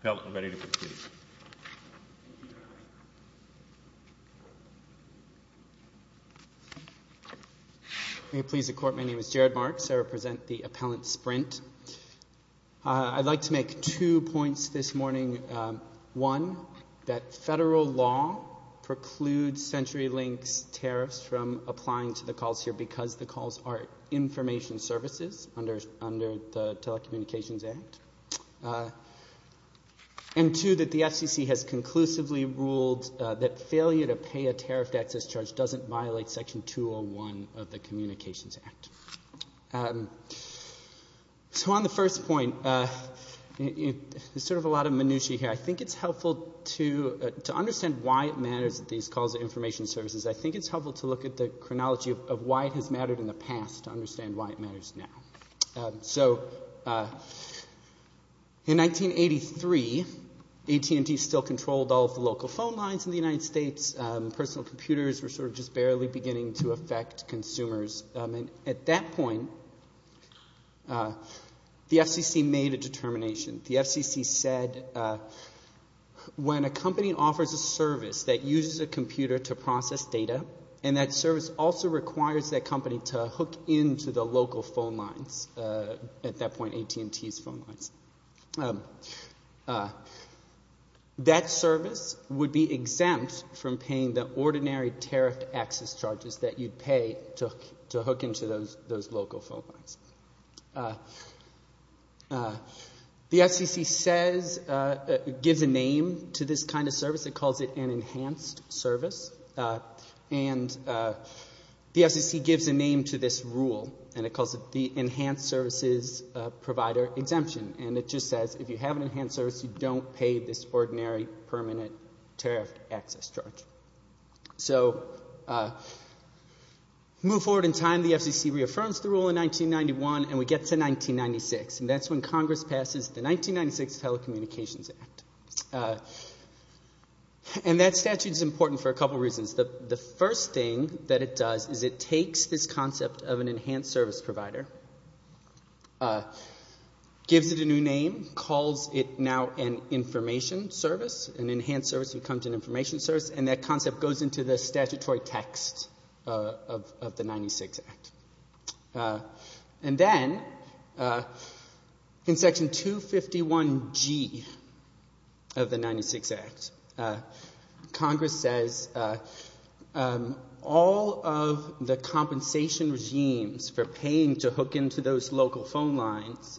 Appellant ready to proceed May it please the Court, my name is Jared Marks, I represent the Appellant Sprint. I'd like to make two points this morning. One, that federal law precludes CenturyLink's tariffs from applying to the calls here because the calls are information services under the Telecommunications Act. And two, that the FCC has conclusively ruled that failure to pay a tariffed access charge doesn't violate Section 201 of the Communications Act. So on the first point, there's sort of a lot of minutiae here. I think it's helpful to understand why it matters that these calls are information services. I think it's helpful to look at the chronology of why it has mattered in the past to understand why it matters now. So in 1983, AT&T still controlled all of the local phone lines in the United States. Personal computers were sort of just barely beginning to affect consumers. At that point, the FCC made a determination. The FCC said when a company offers a service that uses a computer to process data, and that service also requires that company to hook into the local phone lines, at that point AT&T's phone lines, that service would be exempt from paying the ordinary permanent tariff access charge. The FCC says, gives a name to this kind of service. It calls it an enhanced service. And the FCC gives a name to this rule and it calls it the Enhanced Services Provider Exemption. And it just says if you have an enhanced service, you don't pay this ordinary permanent tariff access charge. So move forward in time, the FCC reaffirms the rule in 1991 and we get to 1996. And that's when Congress passes the 1996 Telecommunications Act. And that statute is important for a couple of reasons. The first thing that it does is it takes this concept of an enhanced service provider, gives it a new name, calls it now an information service, an enhanced service becomes an information service, and that concept goes into the statutory text of the 1996 Act. And then, in Section 251G of the 1996 Act, Congress says all of the compensation regimes for paying to hook into those local phone lines,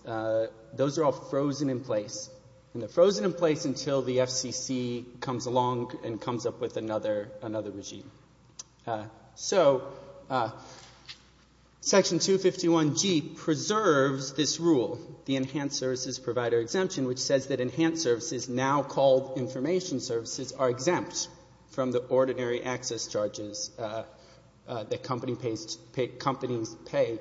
those are all frozen in place. And they're frozen in place until the FCC comes along and comes up with another regime. So Section 251G preserves this rule, the Enhanced Services Provider Exemption, which says that enhanced services, now called information services, are exempt from the ordinary access charges that companies pay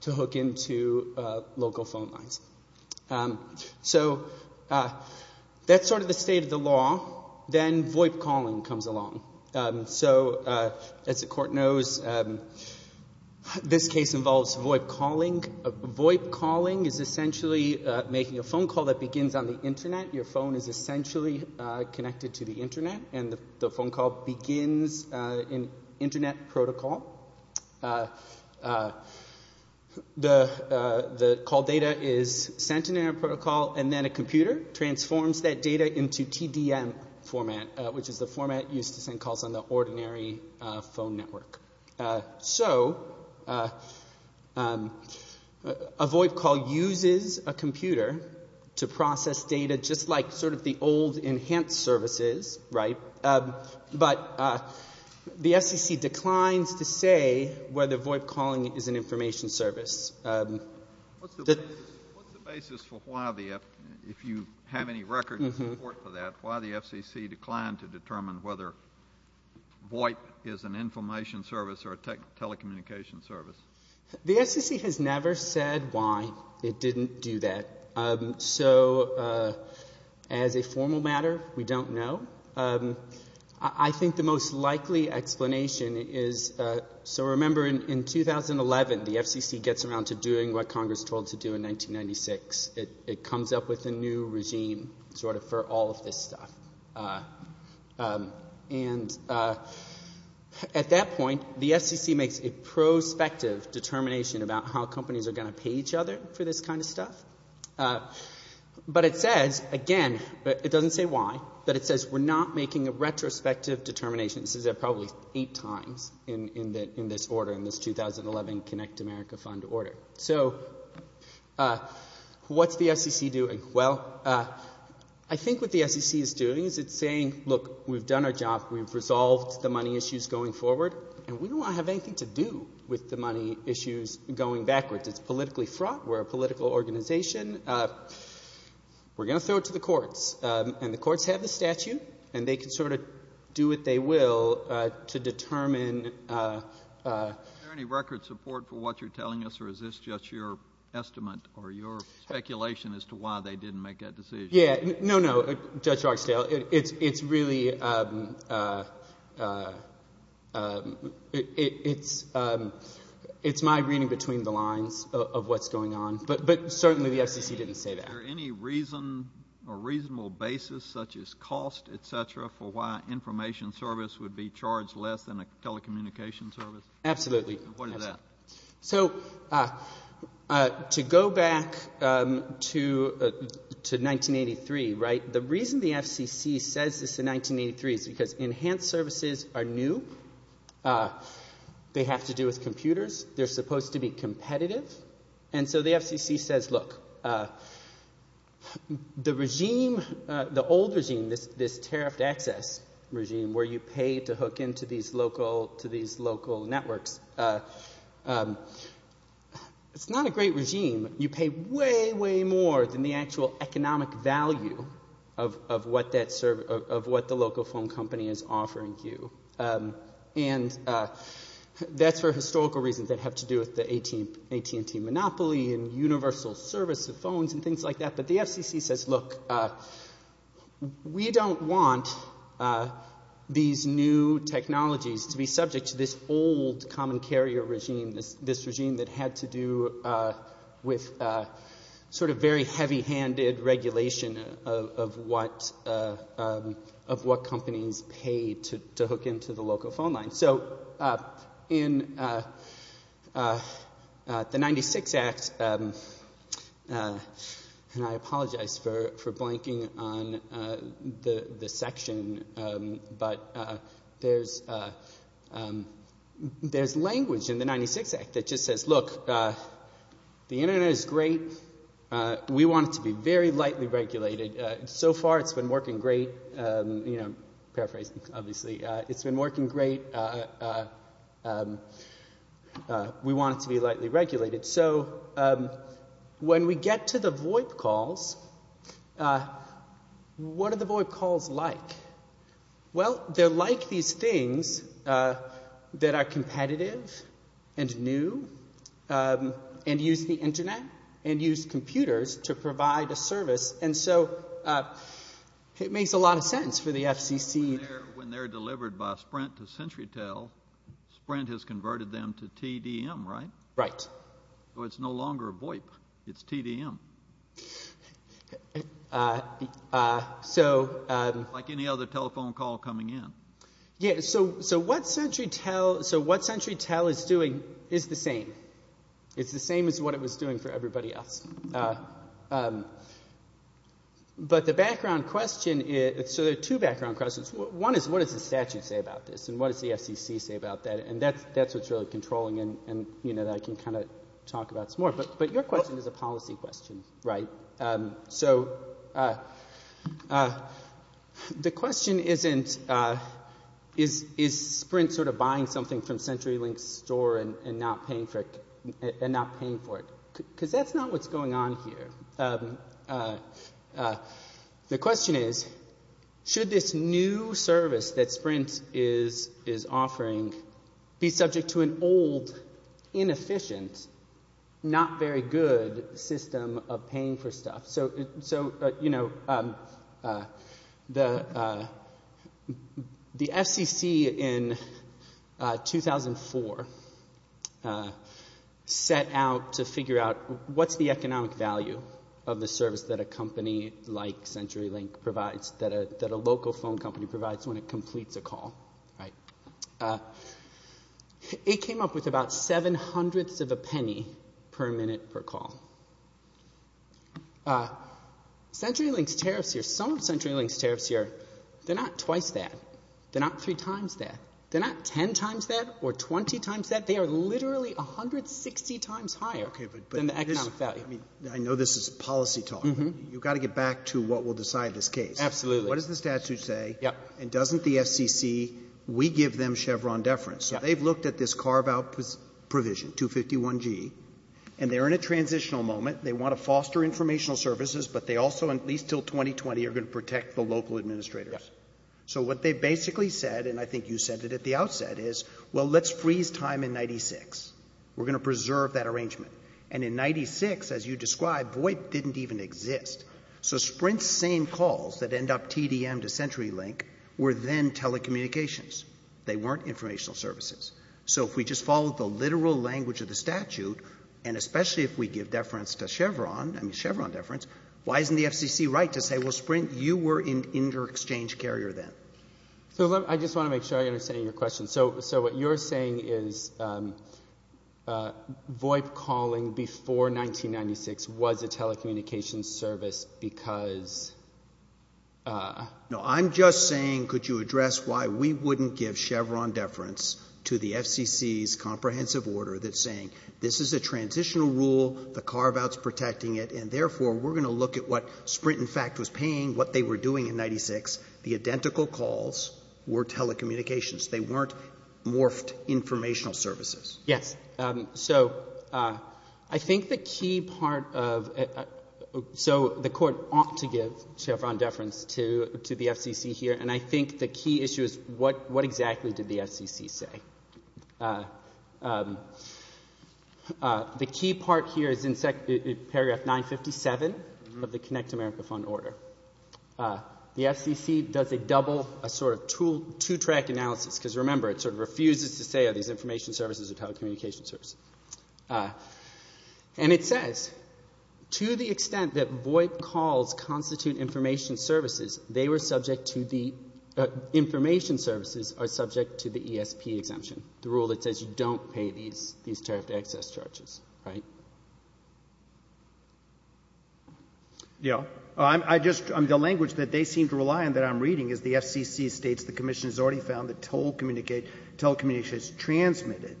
to hook into local phone lines. So that's sort of the state of the law. Then VoIP calling comes along. So as the Court knows, this case involves VoIP calling. VoIP calling is essentially making a phone call that begins on the Internet. Your phone is essentially connected to the Internet protocol and then a computer transforms that data into TDM format, which is the format used to send calls on the ordinary phone network. So a VoIP call uses a computer to process data just like sort of the old enhanced services, right? But the FCC declines to say whether VoIP calling is an information service. What's the basis for why the FCC, if you have any record of support for that, why the FCC declined to determine whether VoIP is an information service or a telecommunication service? The FCC has never said why it didn't do that. So as a formal matter, we don't know. I mean, in 2011, the FCC gets around to doing what Congress told it to do in 1996. It comes up with a new regime sort of for all of this stuff. And at that point, the FCC makes a prospective determination about how companies are going to pay each other for this kind of stuff. But it says, again, it doesn't say why, but it says we're not making a retrospective determination. This is probably eight times in this order, in this 2011 Connect America Fund order. So what's the FCC doing? Well, I think what the FCC is doing is it's saying, look, we've done our job. We've resolved the money issues going forward. And we don't want to have anything to do with the money issues going backwards. It's politically fraught. We're a political organization. We're going to throw it to the courts. And the courts have the statute. And they can sort of do what they will to determine — Is there any record support for what you're telling us, or is this just your estimate or your speculation as to why they didn't make that decision? Yeah. No, no, Judge Roxdale. It's really — it's my reading between the lines of what's going on. But certainly the FCC didn't say that. Is there any reason or reasonable basis, such as cost, et cetera, for why an information service would be charged less than a telecommunications service? Absolutely. What is that? So to go back to 1983, right, the reason the FCC says this in 1983 is because enhanced services are new. They have to do with computers. They're supposed to be competitive. And so the FCC says, look, the regime, the old regime, this tariffed access regime where you pay to hook into these local networks, it's not a great regime. You pay way, way more than the actual economic value of what the local phone company is offering you. And that's for historical reasons that have to do with the AT&T monopoly and universal service of phones and things like that. But the FCC says, look, we don't want these new technologies to be subject to this old common carrier regime, this regime that had to do with sort of very heavy-handed regulation of what companies paid to hook into the local phone line. So in the 96 Act, and I apologize for blanking on the section, but there's language in the 96 Act that just says, look, the Internet is great. We want it to be very lightly regulated. So far, it's been working great. You know, paraphrasing, obviously. It's been working great. We want it to be lightly regulated. So when we get to the VoIP calls, what are the VoIP calls like? Well, they're like these things that are competitive and new and use the Internet and use computers to provide a service. And so it makes a lot of sense for the FCC. When they're delivered by Sprint to CenturyTel, Sprint has converted them to TDM, right? Right. So it's no longer VoIP. It's TDM. Like any other telephone call coming in. Yeah. So what CenturyTel is doing is the same. It's the same as what it was doing for everybody else. But the background question is, so there are two background questions. One is, what does the statute say about this? And what does the FCC say about that? And that's what's really controlling and, you know, that I can kind of talk about some more. But your question is a policy question, right? So the question isn't, is Sprint sort of buying something from CenturyLink's store and not paying for it? Because that's not what's going on here. The question is, should this new service that Sprint is offering be subject to an old, inefficient, not very good system of paying for stuff? So, you know, the FCC in 2004 set out to figure out what's the economic value of the service that a company like CenturyLink provides, that a local phone company provides when it completes a call, right? It came up with about seven hundredths of a penny per minute per call. CenturyLink's tariffs here, some of CenturyLink's tariffs here, they're not twice that. They're not three times that. They're not ten times that or twenty times that. They are literally 160 times higher than the economic value. I mean, I know this is policy talk. You've got to get back to what will decide this case. Absolutely. What does the statute say? And doesn't the FCC, we give them Chevron deference. So they've looked at this carve-out provision, 251G, and they're in a transitional moment. They want to foster informational services, but they also, at least until 2020, are going to protect the local administrators. So what they basically said, and I think you said it at the outset, is, well, let's freeze time in 96. We're going to preserve that arrangement. And in 96, as you described, VoIP didn't even exist. So Sprint's same calls that end up TDM to CenturyLink were then telecommunications. They weren't informational services. So if we just follow the literal language of the statute, and especially if we give deference to Chevron, I mean, Chevron deference, why isn't the FCC right to say, well, Sprint, you were an inter-exchange carrier then? So I just want to make sure I understand your question. So what you're saying is VoIP calling before 1996 was a telecommunications service because No, I'm just saying, could you address why we wouldn't give Chevron deference to the FCC's comprehensive order that's saying this is a transitional rule, the carve-out's protecting it, and therefore, we're going to look at what Sprint, in fact, was paying, what they were doing in 96. The identical calls were telecommunications. They weren't morphed informational services. Yes. So I think the key part of — so the Court ought to give Chevron deference to the FCC here, and I think the key issue is what exactly did the FCC say? The key part here is in paragraph 957 of the Connect America Fund Order. The FCC does a double, a sort of two-track analysis, because remember, it sort of refuses to say are these information services or telecommunications services. And it says, to the extent that VoIP calls constitute information services, they were subject to the — information services are subject to the ESP exemption, the rule that says you don't pay these tariffed access charges, right? Yeah. I just — the language that they seem to rely on that I'm reading is the FCC states the Commission has already found that telecommunications transmitted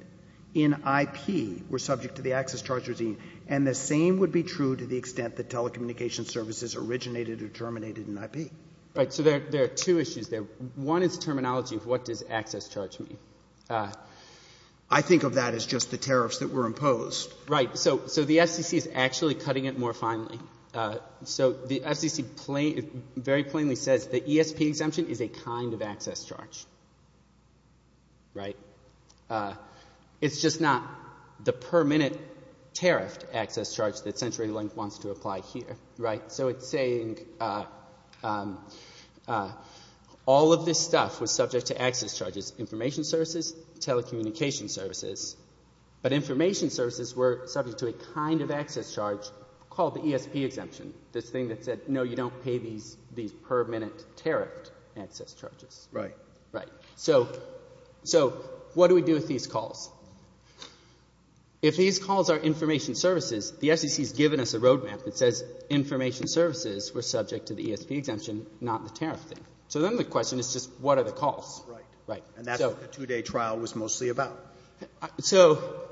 in IP were subject to the access charge regime, and the same would be true to the extent that telecommunications services originated or terminated in IP. Right. So there are two issues there. One is terminology. What does access charge mean? I think of that as just the tariffs that were imposed. Right. So the FCC is actually cutting it more finely. So the FCC plain — very plainly says the ESP exemption is a kind of access charge, right? It's just not the per-minute tariffed access charge that CenturyLink wants to apply here, right? So it's saying all of this stuff was subject to access charges, information services, telecommunications services. But information services were subject to a kind of access charge called the ESP exemption, this thing that said, no, you don't pay these per-minute tariffed access charges. Right. Right. So what do we do with these calls? If these calls are information services, the FCC has given us a roadmap that says information services were subject to the ESP exemption, not the tariff thing. So then the question is just what are the calls? Right. And that's what the two-day trial was mostly about. So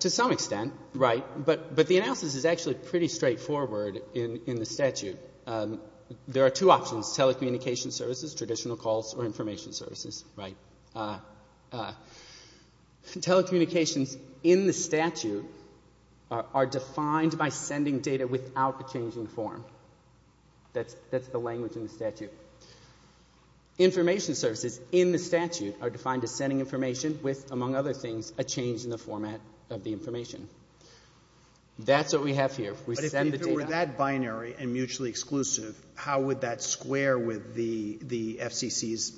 to some extent, right, but the analysis is actually pretty straightforward in the statute. There are two options, telecommunications services, traditional calls, or information services, right? Telecommunications in the statute are defined by sending data without the changing form. That's the language in the statute. Information services in the statute are defined as sending information with, among other things, a change in the format of the information. That's what we have here. We send the data. But if it were that binary and mutually exclusive, how would that square with the FCC's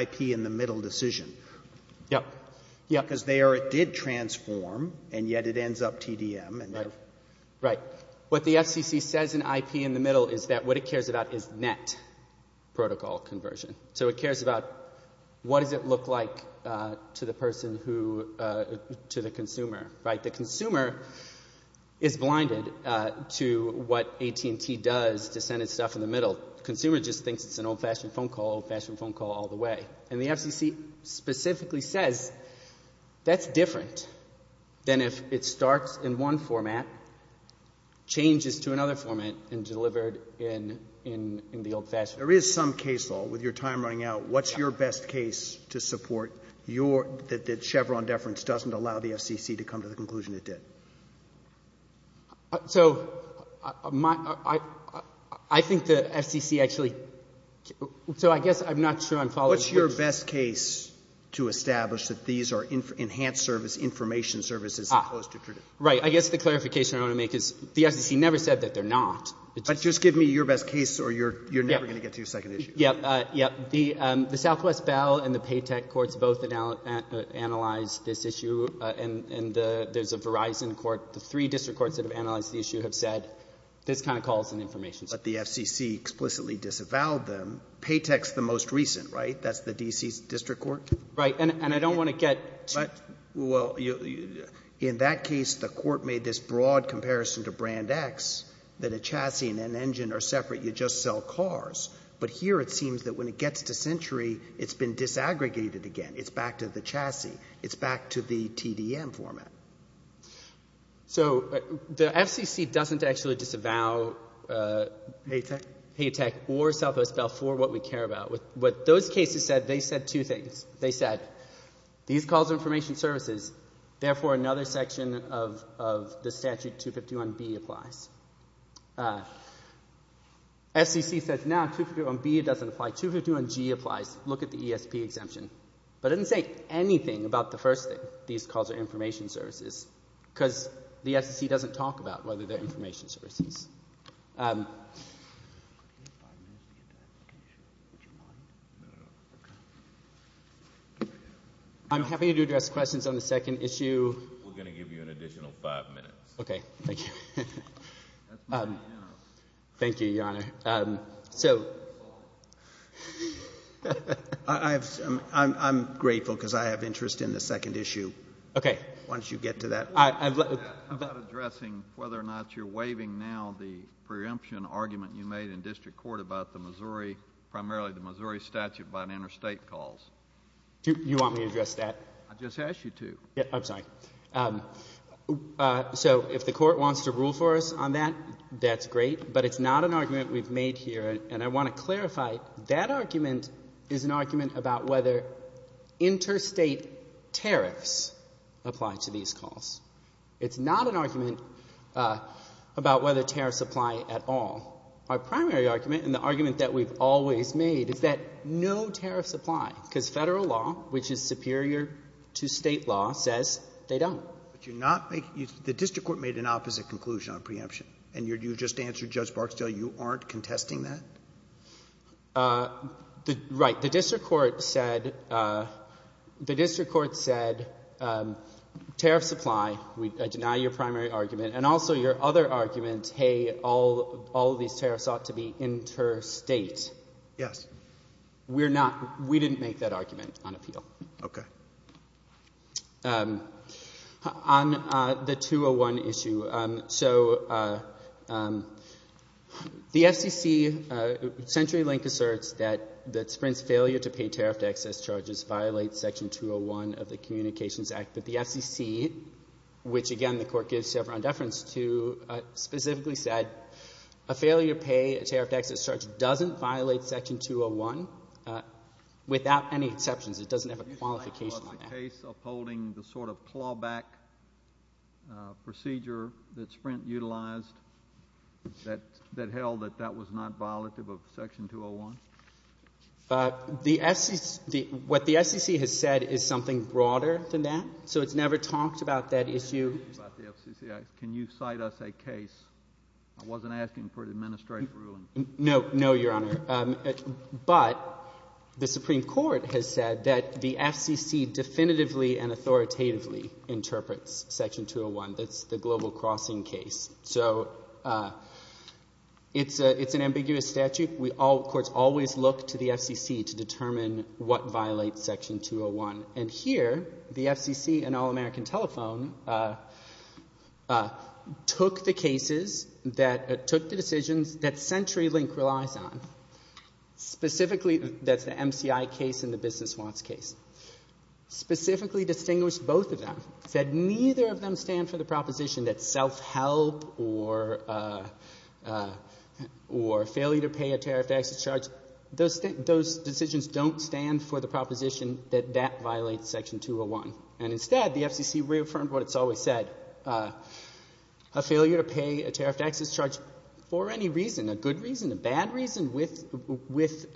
IP in the middle decision? Yeah. Yeah. Because they are, it did transform, and yet it ends up TDM and they're... Right. What the FCC says in IP in the middle is that what it cares about is net protocol conversion. So it cares about what does it look like to the person who, to the consumer, right? The consumer is blinded to what AT&T does to send its stuff in the middle. The consumer just thinks it's an old-fashioned phone call, old-fashioned phone call all the way. And the FCC specifically says that's different than if it starts in one format, changes to another format, and delivered in the old-fashioned. There is some case, though, with your time running out, what's your best case to support your, that Chevron deference doesn't allow the FCC to come to the conclusion it did? So my, I think the FCC actually, so I guess I'm not sure I'm following. What's your best case to establish that these are enhanced service, information services? Right. I guess the clarification I want to make is the FCC never said that they're not. But just give me your best case or you're never going to get to your second issue. Yeah. Yeah. The Southwest Bell and the Paytech courts both analyzed this issue. And there's a Verizon court, the three district courts that have analyzed the issue have said this kind of calls in information services. But the FCC explicitly disavowed them. Paytech's the most recent, right? That's the D.C. District Court? Right. And I don't want to get too... Well, in that case, the court made this broad comparison to Brand X, that a chassis and an engine are separate. You just sell cars. But here it seems that when it gets to Century, it's been disaggregated again. It's back to the chassis. It's back to the TDM format. So the FCC doesn't actually disavow Paytech or Southwest Bell for what we care about. What those cases said, they said two things. They said, these calls of information services, therefore another section of the statute 251B applies. FCC says, no, 251B doesn't apply. 251G applies. Look at the ESP exemption. But it doesn't say anything about the first thing, these calls of information services, because the FCC doesn't talk about whether they're information services. I'm happy to address questions on the second issue. We're going to give you an additional five minutes. Okay. Thank you. Thank you, Your Honor. I'm grateful, because I have interest in the second issue. Okay. Once you get to that. About addressing whether or not you're waiving now the preemption argument you made in district court about the Missouri, primarily the Missouri statute, about interstate calls. You want me to address that? I just asked you to. I'm sorry. So if the court wants to rule for us on that, that's great. But it's not an argument we've made here. And I want to clarify, that argument is an argument. It's not an argument about whether tariffs apply at all. Our primary argument, and the argument that we've always made, is that no tariffs apply, because federal law, which is superior to state law, says they don't. But you're not making, the district court made an opposite conclusion on preemption. And you just answered Judge Barksdale, you aren't contesting that? Right. The district court said tariffs apply. I deny your primary argument. And also your other argument, hey, all these tariffs ought to be interstate. Yes. We're not, we didn't make that argument on appeal. Okay. On the 201 issue, so the FCC, CenturyLink asserts that Sprint's failure to pay tariffed excess charges violates section 201 of the Communications Act. But the FCC, which again the court gives several indeference to, specifically said a failure to pay a tariffed excess charge doesn't violate section 201 without any complication. Was the case upholding the sort of clawback procedure that Sprint utilized that held that that was not violative of section 201? What the FCC has said is something broader than that. So it's never talked about that issue. Can you cite us a case? I wasn't asking for an administrative ruling. No, no, Your Honor. But the Supreme Court has said that the FCC definitively and authoritatively interprets section 201. That's the Global Crossing case. So it's an ambiguous statute. Courts always look to the FCC to determine what violates section 201. And here, the FCC and All-American Telephone took the decisions that CenturyLink relies on, specifically that's the MCI case and the Business Wants case, specifically distinguished both of them, said neither of them stand for the proposition that self-help or failure to pay a tariffed excess charge, those decisions don't stand for the proposition that that violates section 201. And instead, the FCC reaffirmed what it's always said, a failure to pay a tariffed excess charge for any reason, a good reason, a bad reason, with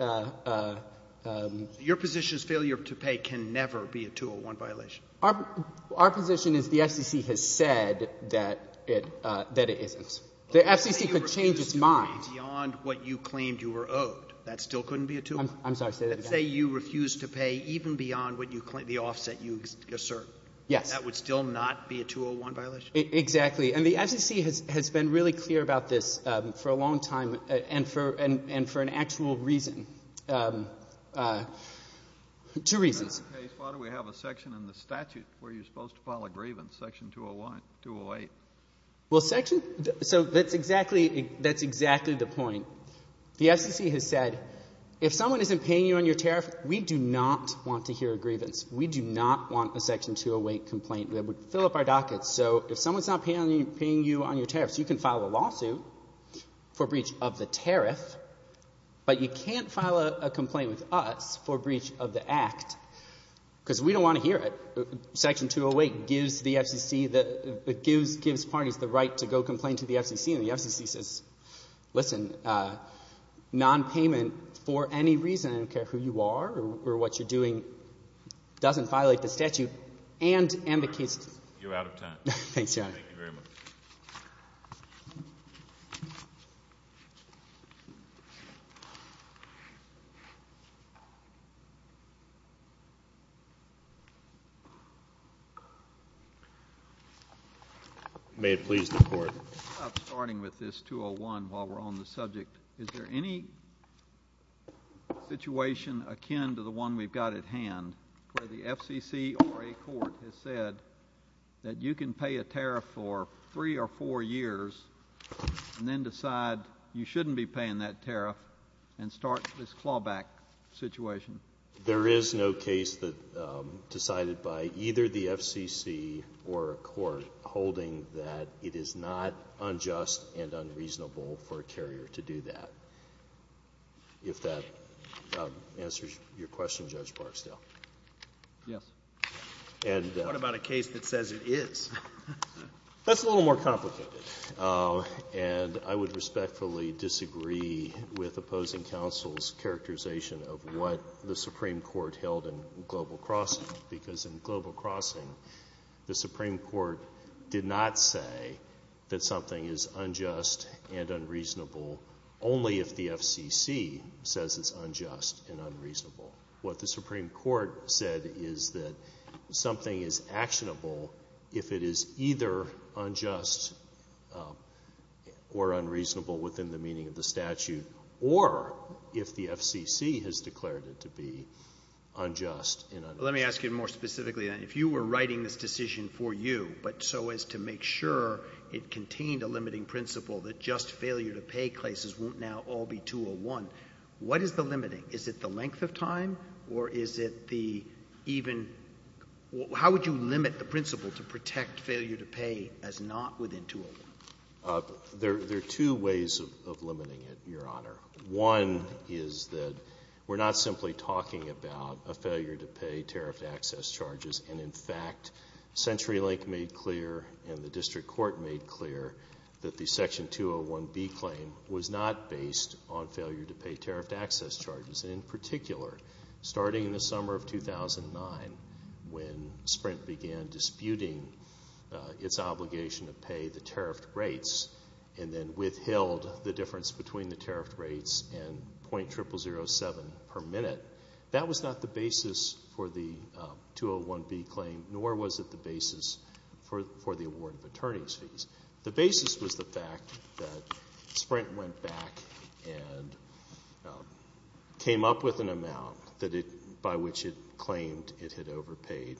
a — Your position is failure to pay can never be a 201 violation? Our position is the FCC has said that it isn't. The FCC could change its mind. Let's say you refused to pay beyond what you claimed you were owed. That still couldn't be a 201. I'm sorry. Say that again. Let's say you refused to pay even beyond what you claim — the offset you assert. Yes. That would still not be a 201 violation? Exactly. And the FCC has been really clear about this for a long time and for an actual reason, two reasons. If that's the case, why do we have a section in the statute where you're supposed to file a grievance, section 201, 208? Well, section — so that's exactly — that's exactly the point. The FCC has said, if someone isn't paying you on your tariff, we do not want to hear a grievance. We do not want a section 208 complaint. That would fill up our docket. So if someone is not paying you on your tariff, you can file a lawsuit for breach of the tariff, but you can't file a complaint with us for breach of the act, because we don't want to hear it. Section 208 gives the FCC the — gives parties the right to go complain to the FCC, and the FCC says, listen, nonpayment for any reason — I don't care who you are or what you're doing — doesn't violate the statute and the case — You're out of time. Thanks, Your Honor. Thank you very much. May it please the Court. I'm starting with this 201 while we're on the subject. Is there any situation akin to the one we've got at hand, where the FCC or a court has said that you can pay a tariff for three or four years and then decide you shouldn't be paying that tariff and start this clawback situation? There is no case that — decided by either the FCC or a court holding that it is not Your question, Judge Barksdale? Yes. And — What about a case that says it is? That's a little more complicated, and I would respectfully disagree with opposing counsel's characterization of what the Supreme Court held in Global Crossing, because in Global Crossing, the Supreme Court did not say that something is unjust and unreasonable only if the FCC says it's unjust and unreasonable. What the Supreme Court said is that something is actionable if it is either unjust or unreasonable within the meaning of the statute, or if the FCC has declared it to be unjust and unreasonable. Let me ask you more specifically then. If you were writing this decision for you, but so as to make sure it contained a limiting principle that just failure-to-pay cases won't now all be 201, what is the limiting? Is it the length of time, or is it the even — how would you limit the principle to protect failure-to-pay as not within 201? There are two ways of limiting it, Your Honor. One is that we're not simply talking about a failure-to-pay tariffed access charges. In fact, CenturyLink made clear, and the District Court made clear, that the Section 201B claim was not based on failure-to-pay tariffed access charges. In particular, starting in the summer of 2009, when Sprint began disputing its obligation to pay the tariffed rates, and then withheld the difference between the tariffed rates and .0007 per minute, that was not the basis for the 201B claim, nor was it the basis for the award of attorney's fees. The basis was the fact that Sprint went back and came up with an amount that it — by which it claimed it had overpaid,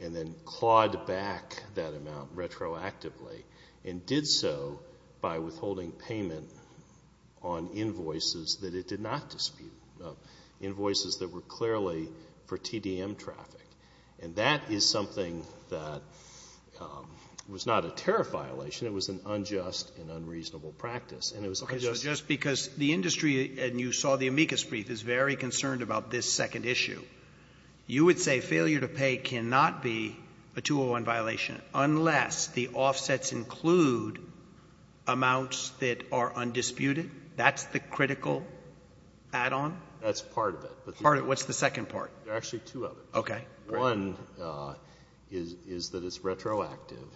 and then clawed back that that it did not dispute invoices that were clearly for TDM traffic. And that is something that was not a tariff violation. It was an unjust and unreasonable practice. And it was unjust — Okay. So just because the industry — and you saw the amicus brief — is very concerned about this second issue, you would say failure-to-pay cannot be a 201 violation unless the offsets include amounts that are undisputed? That's the critical add-on? That's part of it. Part of it. What's the second part? There are actually two of them. Okay. One is that it's retroactive.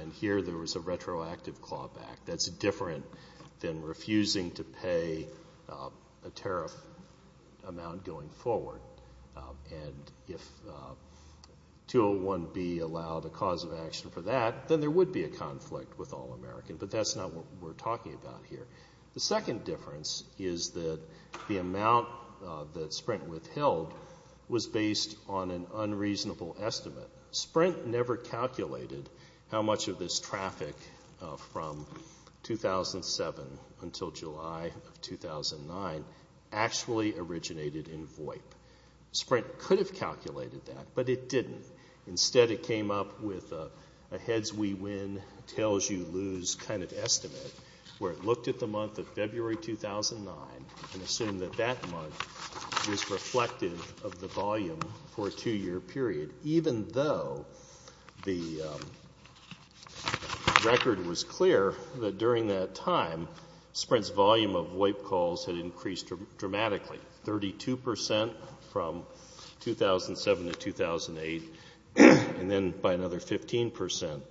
And here there was a retroactive clawback. That's different than refusing to pay a tariff amount going forward. And if 201B allowed a cause of action for that, then there would be a conflict with All-American. But that's not what we're talking about here. The second difference is that the amount that Sprint withheld was based on an unreasonable estimate. Sprint never calculated how much of this traffic from 2007 until July of 2009 actually originated in VOIP. Sprint could have calculated that, but it didn't. Instead it came up with a heads-we-win, tails-you-lose kind of estimate where it looked at the month of February 2009 and assumed that that month was reflective of the volume for a two-year period, even though the record was clear that during that time Sprint's volume of VOIP calls had increased dramatically, 32 percent from 2007 to 2008, and then by another 15 percent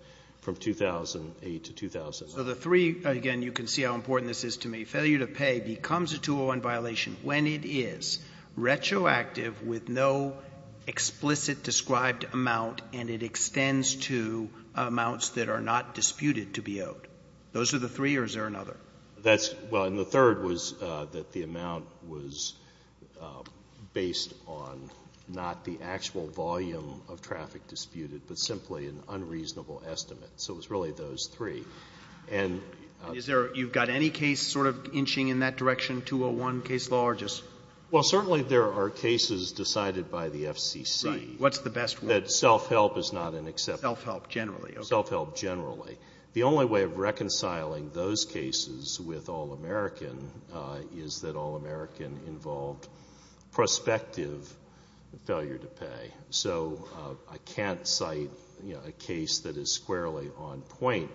from 2008 to 2009. So the three, again, you can see how important this is to me. Failure to pay becomes a 201 violation when it is retroactive with no explicit described amount and it extends to amounts that are not disputed to be owed. Those are the three, or is there another? Well, and the third was that the amount was based on not the actual volume of traffic disputed, but simply an unreasonable estimate. So it was really those three. And is there, you've got any case sort of inching in that direction, 201 case law, or just? Well, certainly there are cases decided by the FCC. Right. What's the best one? That self-help is not an exception. Self-help generally. Self-help generally. The only way of reconciling those cases with All-American is that All-American involved prospective failure to pay. So I can't cite a case that is squarely on point.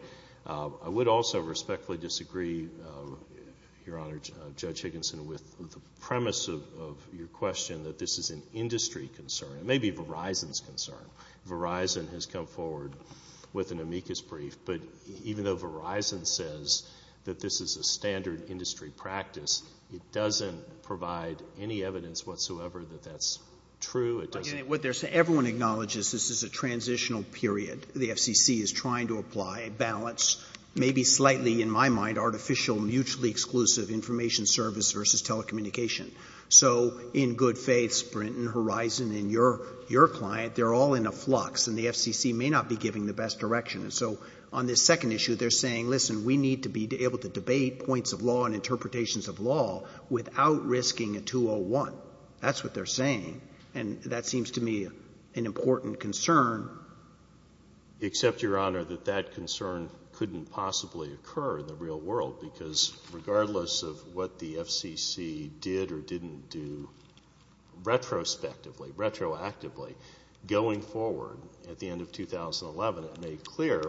I would also respectfully disagree, Your Honor, Judge Higginson, with the premise of your question that this is an industry concern. It may be Verizon's concern. Verizon has come forward with an amicus brief. But even though Verizon says that this is a standard industry practice, it doesn't provide any evidence whatsoever that that's true. What they're saying, everyone acknowledges this is a transitional period. The FCC is trying to apply a balance, maybe slightly, in my mind, artificial, mutually exclusive information service versus telecommunication. So in good faith, Sprint and Horizon and your client, they're all in a flux, and the FCC may not be giving the best direction. So on this second issue, they're saying, listen, we need to be able to debate points of law and interpretations of law without risking a 201. That's what they're saying. And that seems to me an important concern. Except, Your Honor, that that concern couldn't possibly occur in the real world, because regardless of what the FCC did or didn't do, retrospectively, retroactively, going forward at the end of 2011, it made clear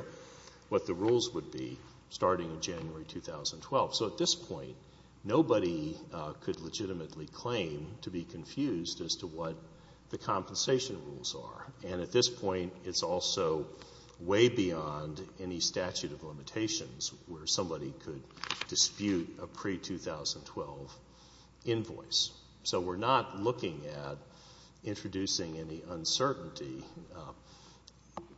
what the rules would be starting in January 2012. So at this point, nobody could legitimately claim to be confused as to what the compensation rules are. And at this point, it's also way beyond any statute of limitations where somebody could dispute a pre-2012 invoice. So we're not looking at introducing any uncertainty.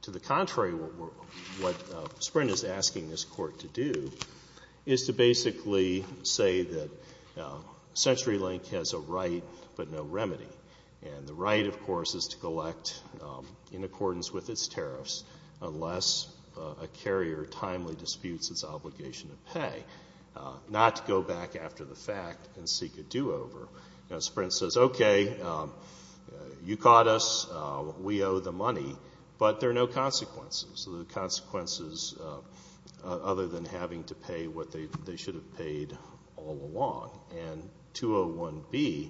To the contrary, what Sprint is asking this Court to do is to basically say that CenturyLink has a right, but no remedy. And the right, of course, is to collect in accordance with its tariffs, unless a carrier timely disputes its obligation to pay, not to go back after the fact and seek a do-over. Sprint says, okay, you caught us. We owe the money. But there are no consequences, other than having to pay what they should have paid all along. And 201B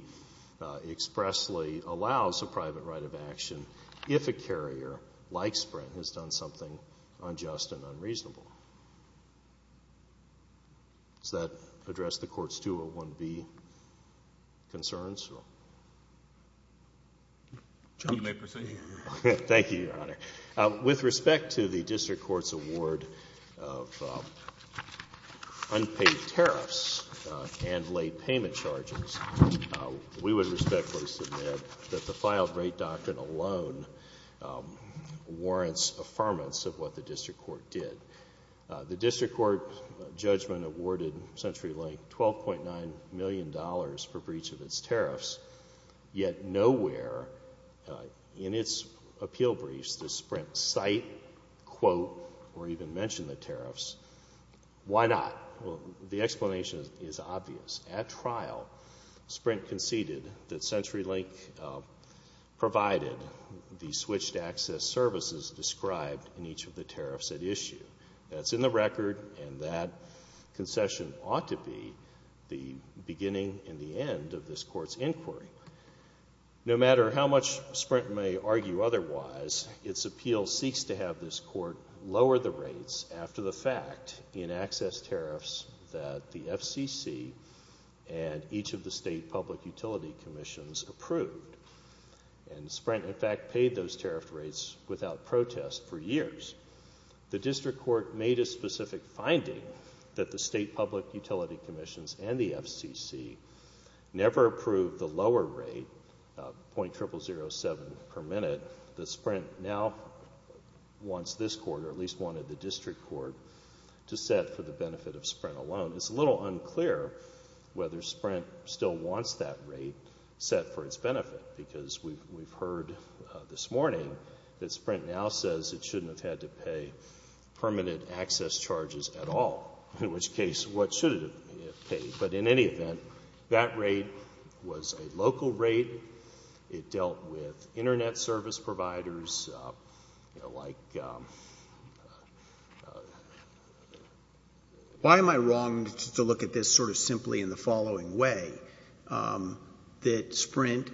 expressly allows a private right of action if a carrier, like Sprint, has done something unjust and unreasonable. Does that address the Court's 201B concerns? Thank you, Your Honor. With respect to the District Court's award of unpaid tariffs and late payment charges, we would respectfully submit that the filed rate doctrine alone warrants affirmance of what the District Court did. The District Court judgment awarded CenturyLink $12.9 million for breach of its tariffs, yet nowhere in its appeal briefs does Sprint cite, quote, or even mention the tariffs. Why not? Well, the explanation is obvious. At trial, Sprint conceded that CenturyLink provided the switched access services described in each of the tariffs at issue. That's in the record, and that concession ought to be the beginning and the end of this Court's inquiry. No matter how much Sprint may argue otherwise, its appeal seeks to have this Court lower the rates after the fact in access tariffs that the FCC and each of the state public utility commissions approved. And Sprint, in fact, paid those tariff rates without protest for years. The District Court made a specific finding that the state public utility commissions and the FCC never approved the lower rate, .0007 per minute, that Sprint now wants this Court, or at least wanted the District Court, to set for the benefit of Sprint alone. It's a little unclear whether Sprint still wants that rate set for its benefit, because we've heard this morning that Sprint now says it shouldn't have had to pay permanent access charges at all, in which case, what should it have paid? But in any event, that rate was a local rate. It dealt with Internet service providers, you know, like why am I wrong to look at this sort of simply in the following way, that Sprint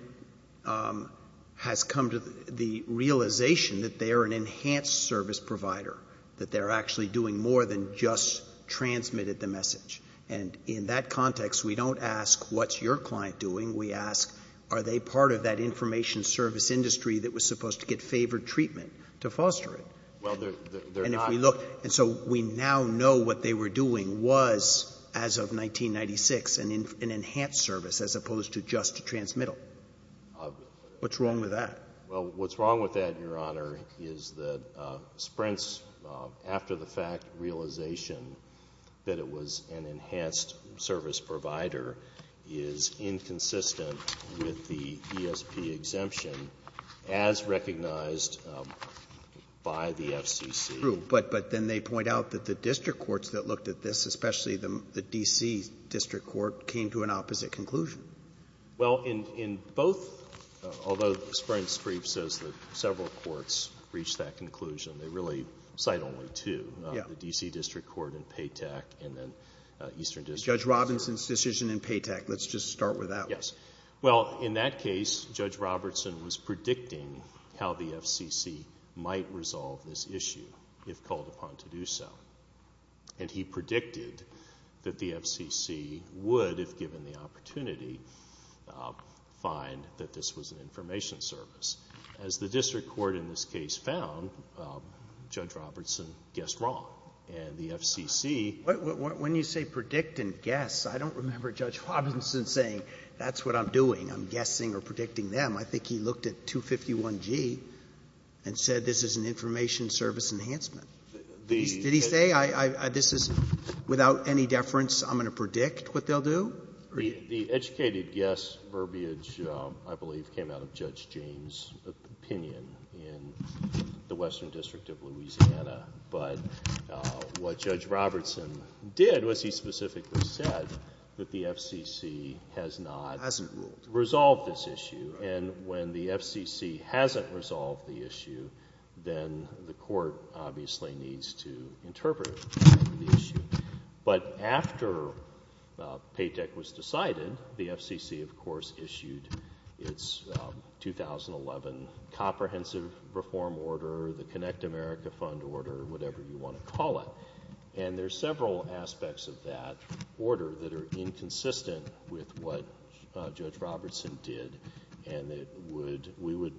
has come to the realization that they're an enhanced service provider, that they're actually doing more than just transmitted the message. And in that context, we don't ask, what's your client doing? We ask, are they part of that information service industry that was supposed to get favored treatment to foster it? Well, they're not. And if we look — and so we now know what they were doing was, as of 1996, an enhanced service as opposed to just a transmittal. What's wrong with that? Well, what's wrong with that, Your Honor, is that Sprint's, after the fact, realization that it was an enhanced service provider is inconsistent with the ESP exemption as recognized by the FCC. True. But then they point out that the district courts that looked at this, especially the D.C. district court, came to an opposite conclusion. Well, in both — although Sprint's brief says that several courts reached that conclusion, they really cite only two, the D.C. district court and PAYTAC, and then Eastern District Court. Judge Robinson's decision in PAYTAC. Let's just start with that one. Yes. Well, in that case, Judge Robertson was predicting how the FCC might resolve this issue if called upon to do so. And he predicted that the FCC would, if given the opportunity, find that this was an information service. As the district court in this case found, Judge Robertson guessed wrong. And the FCC — When you say predict and guess, I don't remember Judge Robinson saying, that's what I'm doing. I'm guessing or predicting them. I think he looked at 251G and said this is an information service enhancement. Did he say, this is — without any deference, I'm going to predict what they'll do? The educated guess verbiage, I believe, came out of Judge James' opinion in the Western District of Louisiana. But what Judge Robertson did was he specifically said that the FCC has not — Hasn't ruled. Resolved this issue. And when the FCC hasn't resolved the issue, then the court obviously needs to interpret the issue. But after PAYTEC was decided, the FCC, of course, issued its 2011 Comprehensive Reform Order, the Connect America Fund Order, whatever you want to call it. And there's several aspects of that order that are inconsistent with what Judge Robertson did. And it would — we would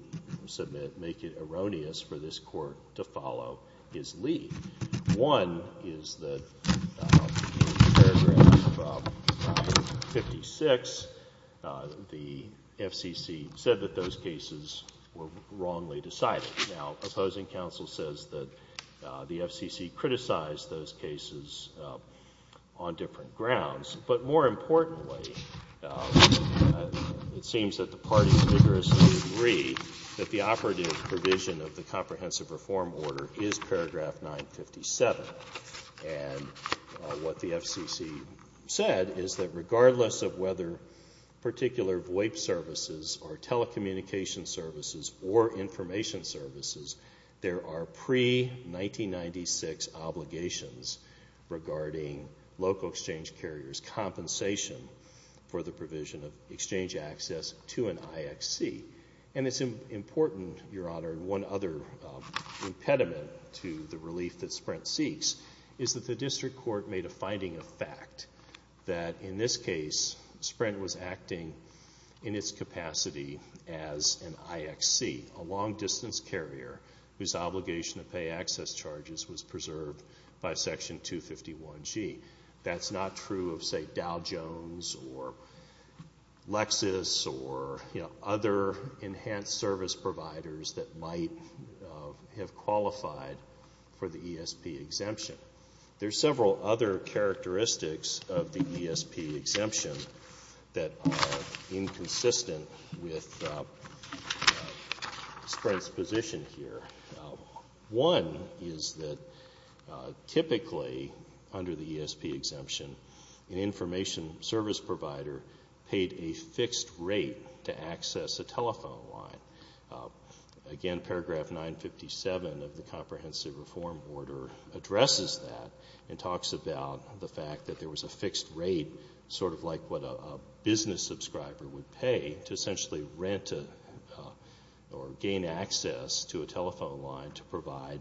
submit — make it erroneous for this court to follow his lead. One is that in paragraph 56, the FCC said that those cases were wrongly decided. Now, opposing counsel says that the FCC criticized those cases on different grounds. But more importantly, it seems that the parties vigorously agree that the operative provision of the Comprehensive Reform Order is paragraph 957. And what the FCC said is that regardless of whether particular VoIP services or telecommunications services or information services, there are pre-1996 obligations regarding local exchange carriers' compensation for the provision of exchange access to an IXC. And it's important, Your Honor, one other impediment to the relief that Sprint seeks is that the district court made a finding of fact that in this case, Sprint was acting in its capacity as an IXC, a long-distance carrier, whose obligation to pay access charges was preserved by Section 251G. That's not true of, say, Dow Jones or Lexis or, you know, other enhanced service providers that might have qualified for the ESP exemption. There's several other characteristics of the ESP exemption that are inconsistent with Sprint's position here. One is that typically under the ESP exemption, an information service provider paid a fixed rate to access a telephone line. Again, paragraph 957 of the Comprehensive Reform Order addresses that and talks about the fact that there was a fixed rate, sort of like what a business subscriber would pay to essentially rent or gain access to a telephone line to provide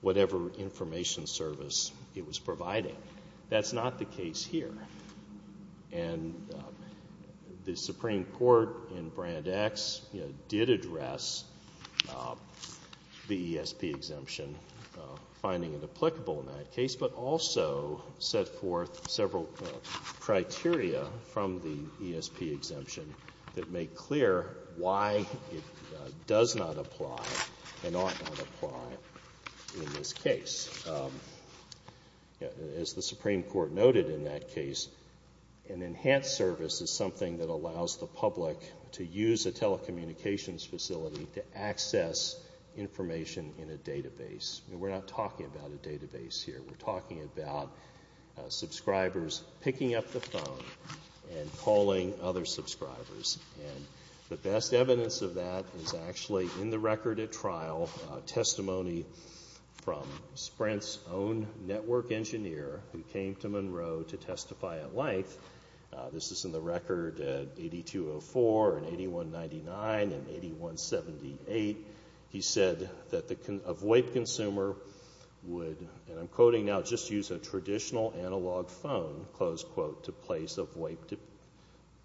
whatever information service it was providing. That's not the case here. And the Supreme Court in Brand X, you know, did address the ESP exemption in the Supreme Court's finding it applicable in that case, but also set forth several criteria from the ESP exemption that make clear why it does not apply and ought not apply in this case. As the Supreme Court noted in that case, an enhanced service is something that allows the public to use a telecommunications facility to access information in a database. We're not talking about a database here. We're talking about subscribers picking up the phone and calling other subscribers. And the best evidence of that is actually in the record at trial, testimony from Sprint's own network engineer who came to Monroe to testify at length. This is in the record at 8204 and 8199 and 8178. He said that the avoid consumer would, and I'm quoting now, just use a traditional analog phone, close quote, to place avoid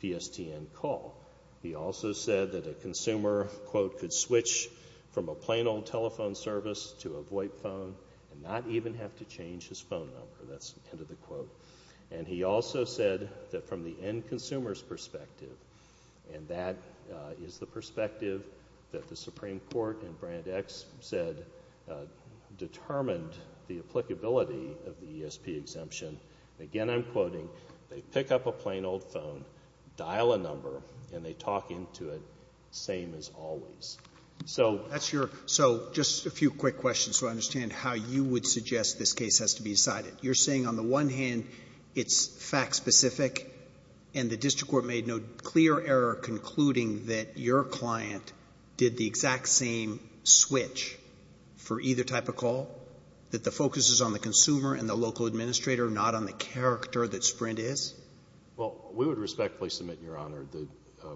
PSTN call. He also said that a consumer, quote, could switch from a plain old telephone service to avoid phone and not even have to change his phone number. That's the end of the quote. And he also said that from the end consumer's perspective, and that is the perspective that the Supreme Court and Brand X said determined the applicability of the ESP exemption. Again I'm quoting, they pick up a plain old phone, dial a number, and they talk into it same as always. So that's your Roberts. So just a few quick questions so I understand how you would suggest this case has to be decided. You're saying on the one hand it's fact specific, and the district court made no clear error concluding that your client did the exact same switch for either type of call? That the focus is on the consumer and the local administrator, not on the character that Sprint is? Well, we would respectfully submit, Your Honor, the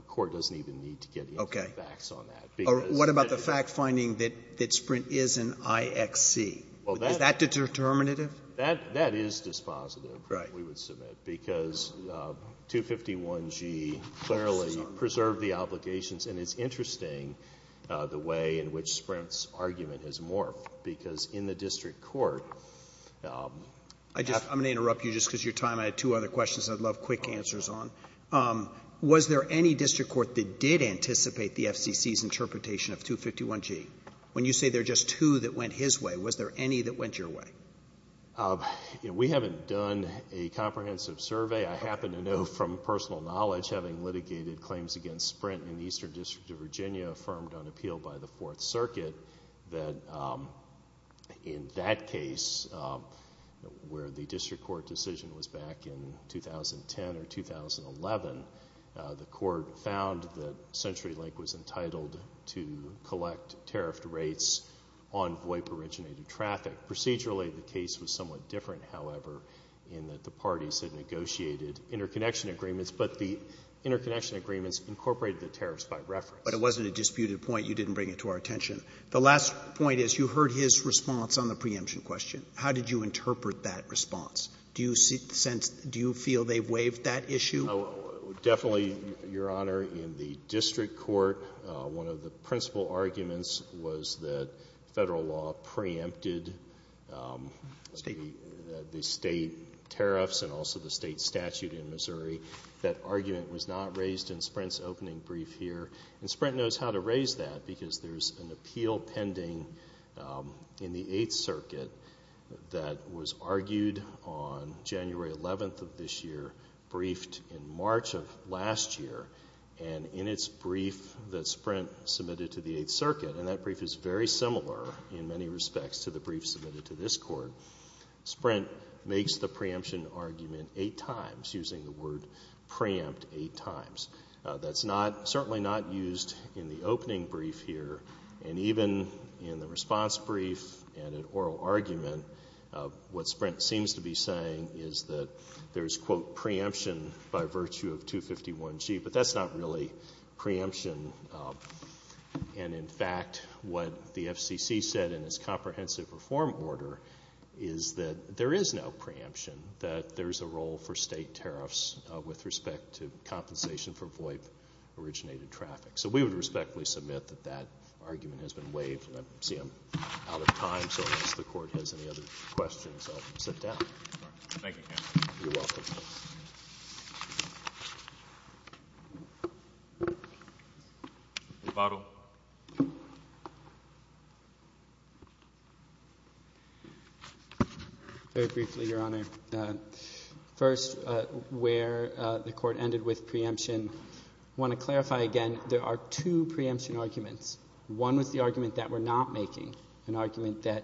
court doesn't even need to get into the facts on that. What about the fact finding that Sprint is an IXC? Is that determinative? That is dispositive, we would submit, because 251G clearly preserved the obligations. And it's interesting the way in which Sprint's argument has morphed, because in the district court the actual law is not defined. I'm going to interrupt you just because of your time. I had two other questions I'd love quick answers on. Was there any district court that did anticipate the FCC's interpretation of 251G? When you say there are just two that went his way, was there any that went your way? We haven't done a comprehensive survey. I happen to know from personal knowledge, having litigated claims against Sprint in the Eastern District of Virginia, affirmed on appeal by the Fourth Circuit, that in that case, where the district court decision was back in 2010 or 2011, the court found that CenturyLink was entitled to collect tariffed rates on VOIP-originated traffic. Procedurally, the case was somewhat different, however, in that the parties had negotiated interconnection agreements, but the interconnection agreements incorporated the tariffs by reference. But it wasn't a disputed point. You didn't bring it to our attention. The last point is you heard his response on the preemption question. How did you interpret that response? Do you sense — do you feel they waived that issue? Definitely, Your Honor. In the district court, one of the principal arguments was that Federal law preempted the State tariffs and also the State statute in Missouri. That argument was not raised in Sprint's opening brief here. And Sprint knows how to raise that, because there's an appeal pending in the Eighth Circuit that was argued on January 11th of this year, briefed in March of last year. And in its brief that Sprint submitted to the Eighth Circuit, and that brief is very similar in many respects to the brief submitted to this Court, Sprint makes the preemption argument eight times, using the word preempt eight times. That's certainly not used in the opening brief here. And even in the response brief and in oral argument, what Sprint seems to be saying is that there's, quote, preemption by virtue of 251G. But that's not really preemption. And, in fact, what the FCC said in its comprehensive reform order is that there is no preemption, that there's a role for State tariffs with respect to compensation for VOIP-originated traffic. So we would respectfully submit that that argument has been waived. And I see I'm out of time, so unless the Court has any other questions, I'll sit down. Thank you, counsel. You're welcome. Rebuttal. Very briefly, Your Honor. First, where the Court ended with preemption, I want to clarify again there are two preemption arguments. One was the argument that we're not making, an argument that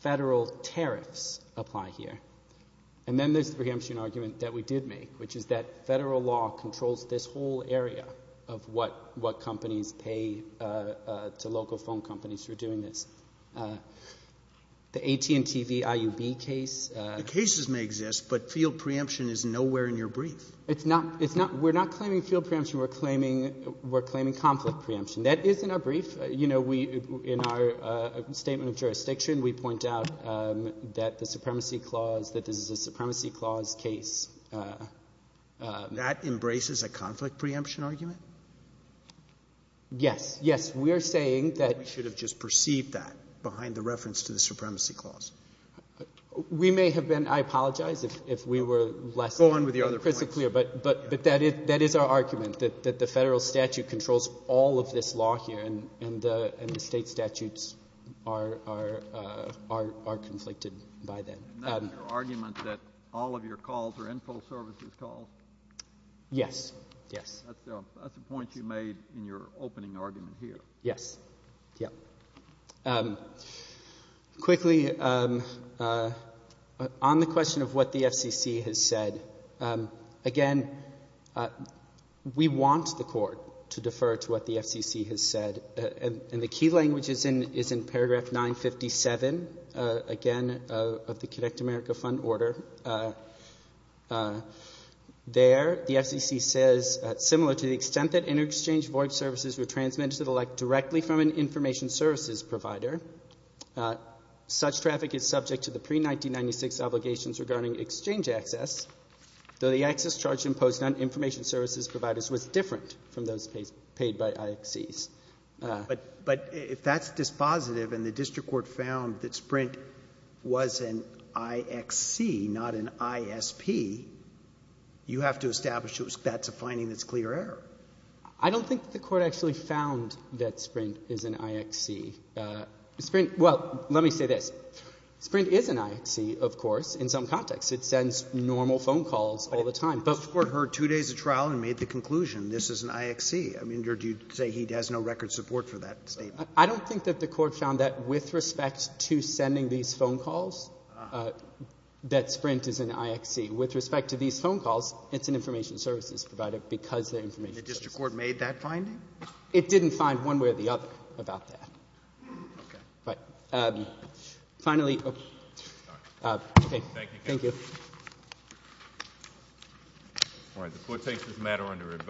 Federal tariffs apply here. And then there's the preemption argument that we did make, which is that Federal law controls this whole area of what companies pay to local phone companies for doing this. The AT&T v. IUB case... The cases may exist, but field preemption is nowhere in your brief. It's not. We're not claiming field preemption. We're claiming conflict preemption. That is in our brief. You know, in our statement of jurisdiction, we point out that the Supremacy Clause case... That embraces a conflict preemption argument? Yes. Yes. We're saying that... We should have just perceived that behind the reference to the Supremacy Clause. We may have been — I apologize if we were less... Go on with your other points. But that is our argument, that the Federal statute controls all of this law here, and the State statutes are conflicted by that. Your argument that all of your calls are Info Services calls? Yes. Yes. That's a point you made in your opening argument here. Yes. Yeah. Quickly, on the question of what the FCC has said, again, we want the Court to defer to what the FCC has said. And the key language is in paragraph 957, again, of the Connect America Fund Order. There, the FCC says, similar to the extent that inter-exchange void services were transmitted directly from an Information Services provider, such traffic is subject to the pre-1996 obligations regarding exchange access, though the access charge imposed on Information Services is paid by IXCs. But if that's dispositive and the district court found that Sprint was an IXC, not an ISP, you have to establish that that's a finding that's clear error. I don't think the Court actually found that Sprint is an IXC. Sprint — well, let me say this. Sprint is an IXC, of course, in some contexts. It sends normal phone calls all the time. The district court heard two days of trial and made the conclusion this is an IXC. I mean, or do you say he has no record support for that statement? I don't think that the Court found that with respect to sending these phone calls, that Sprint is an IXC. With respect to these phone calls, it's an Information Services provider because they're Information Services. The district court made that finding? It didn't find one way or the other about that. Okay. But, finally — All right. Okay. Thank you. Thank you. All right. The Court takes this matter under review.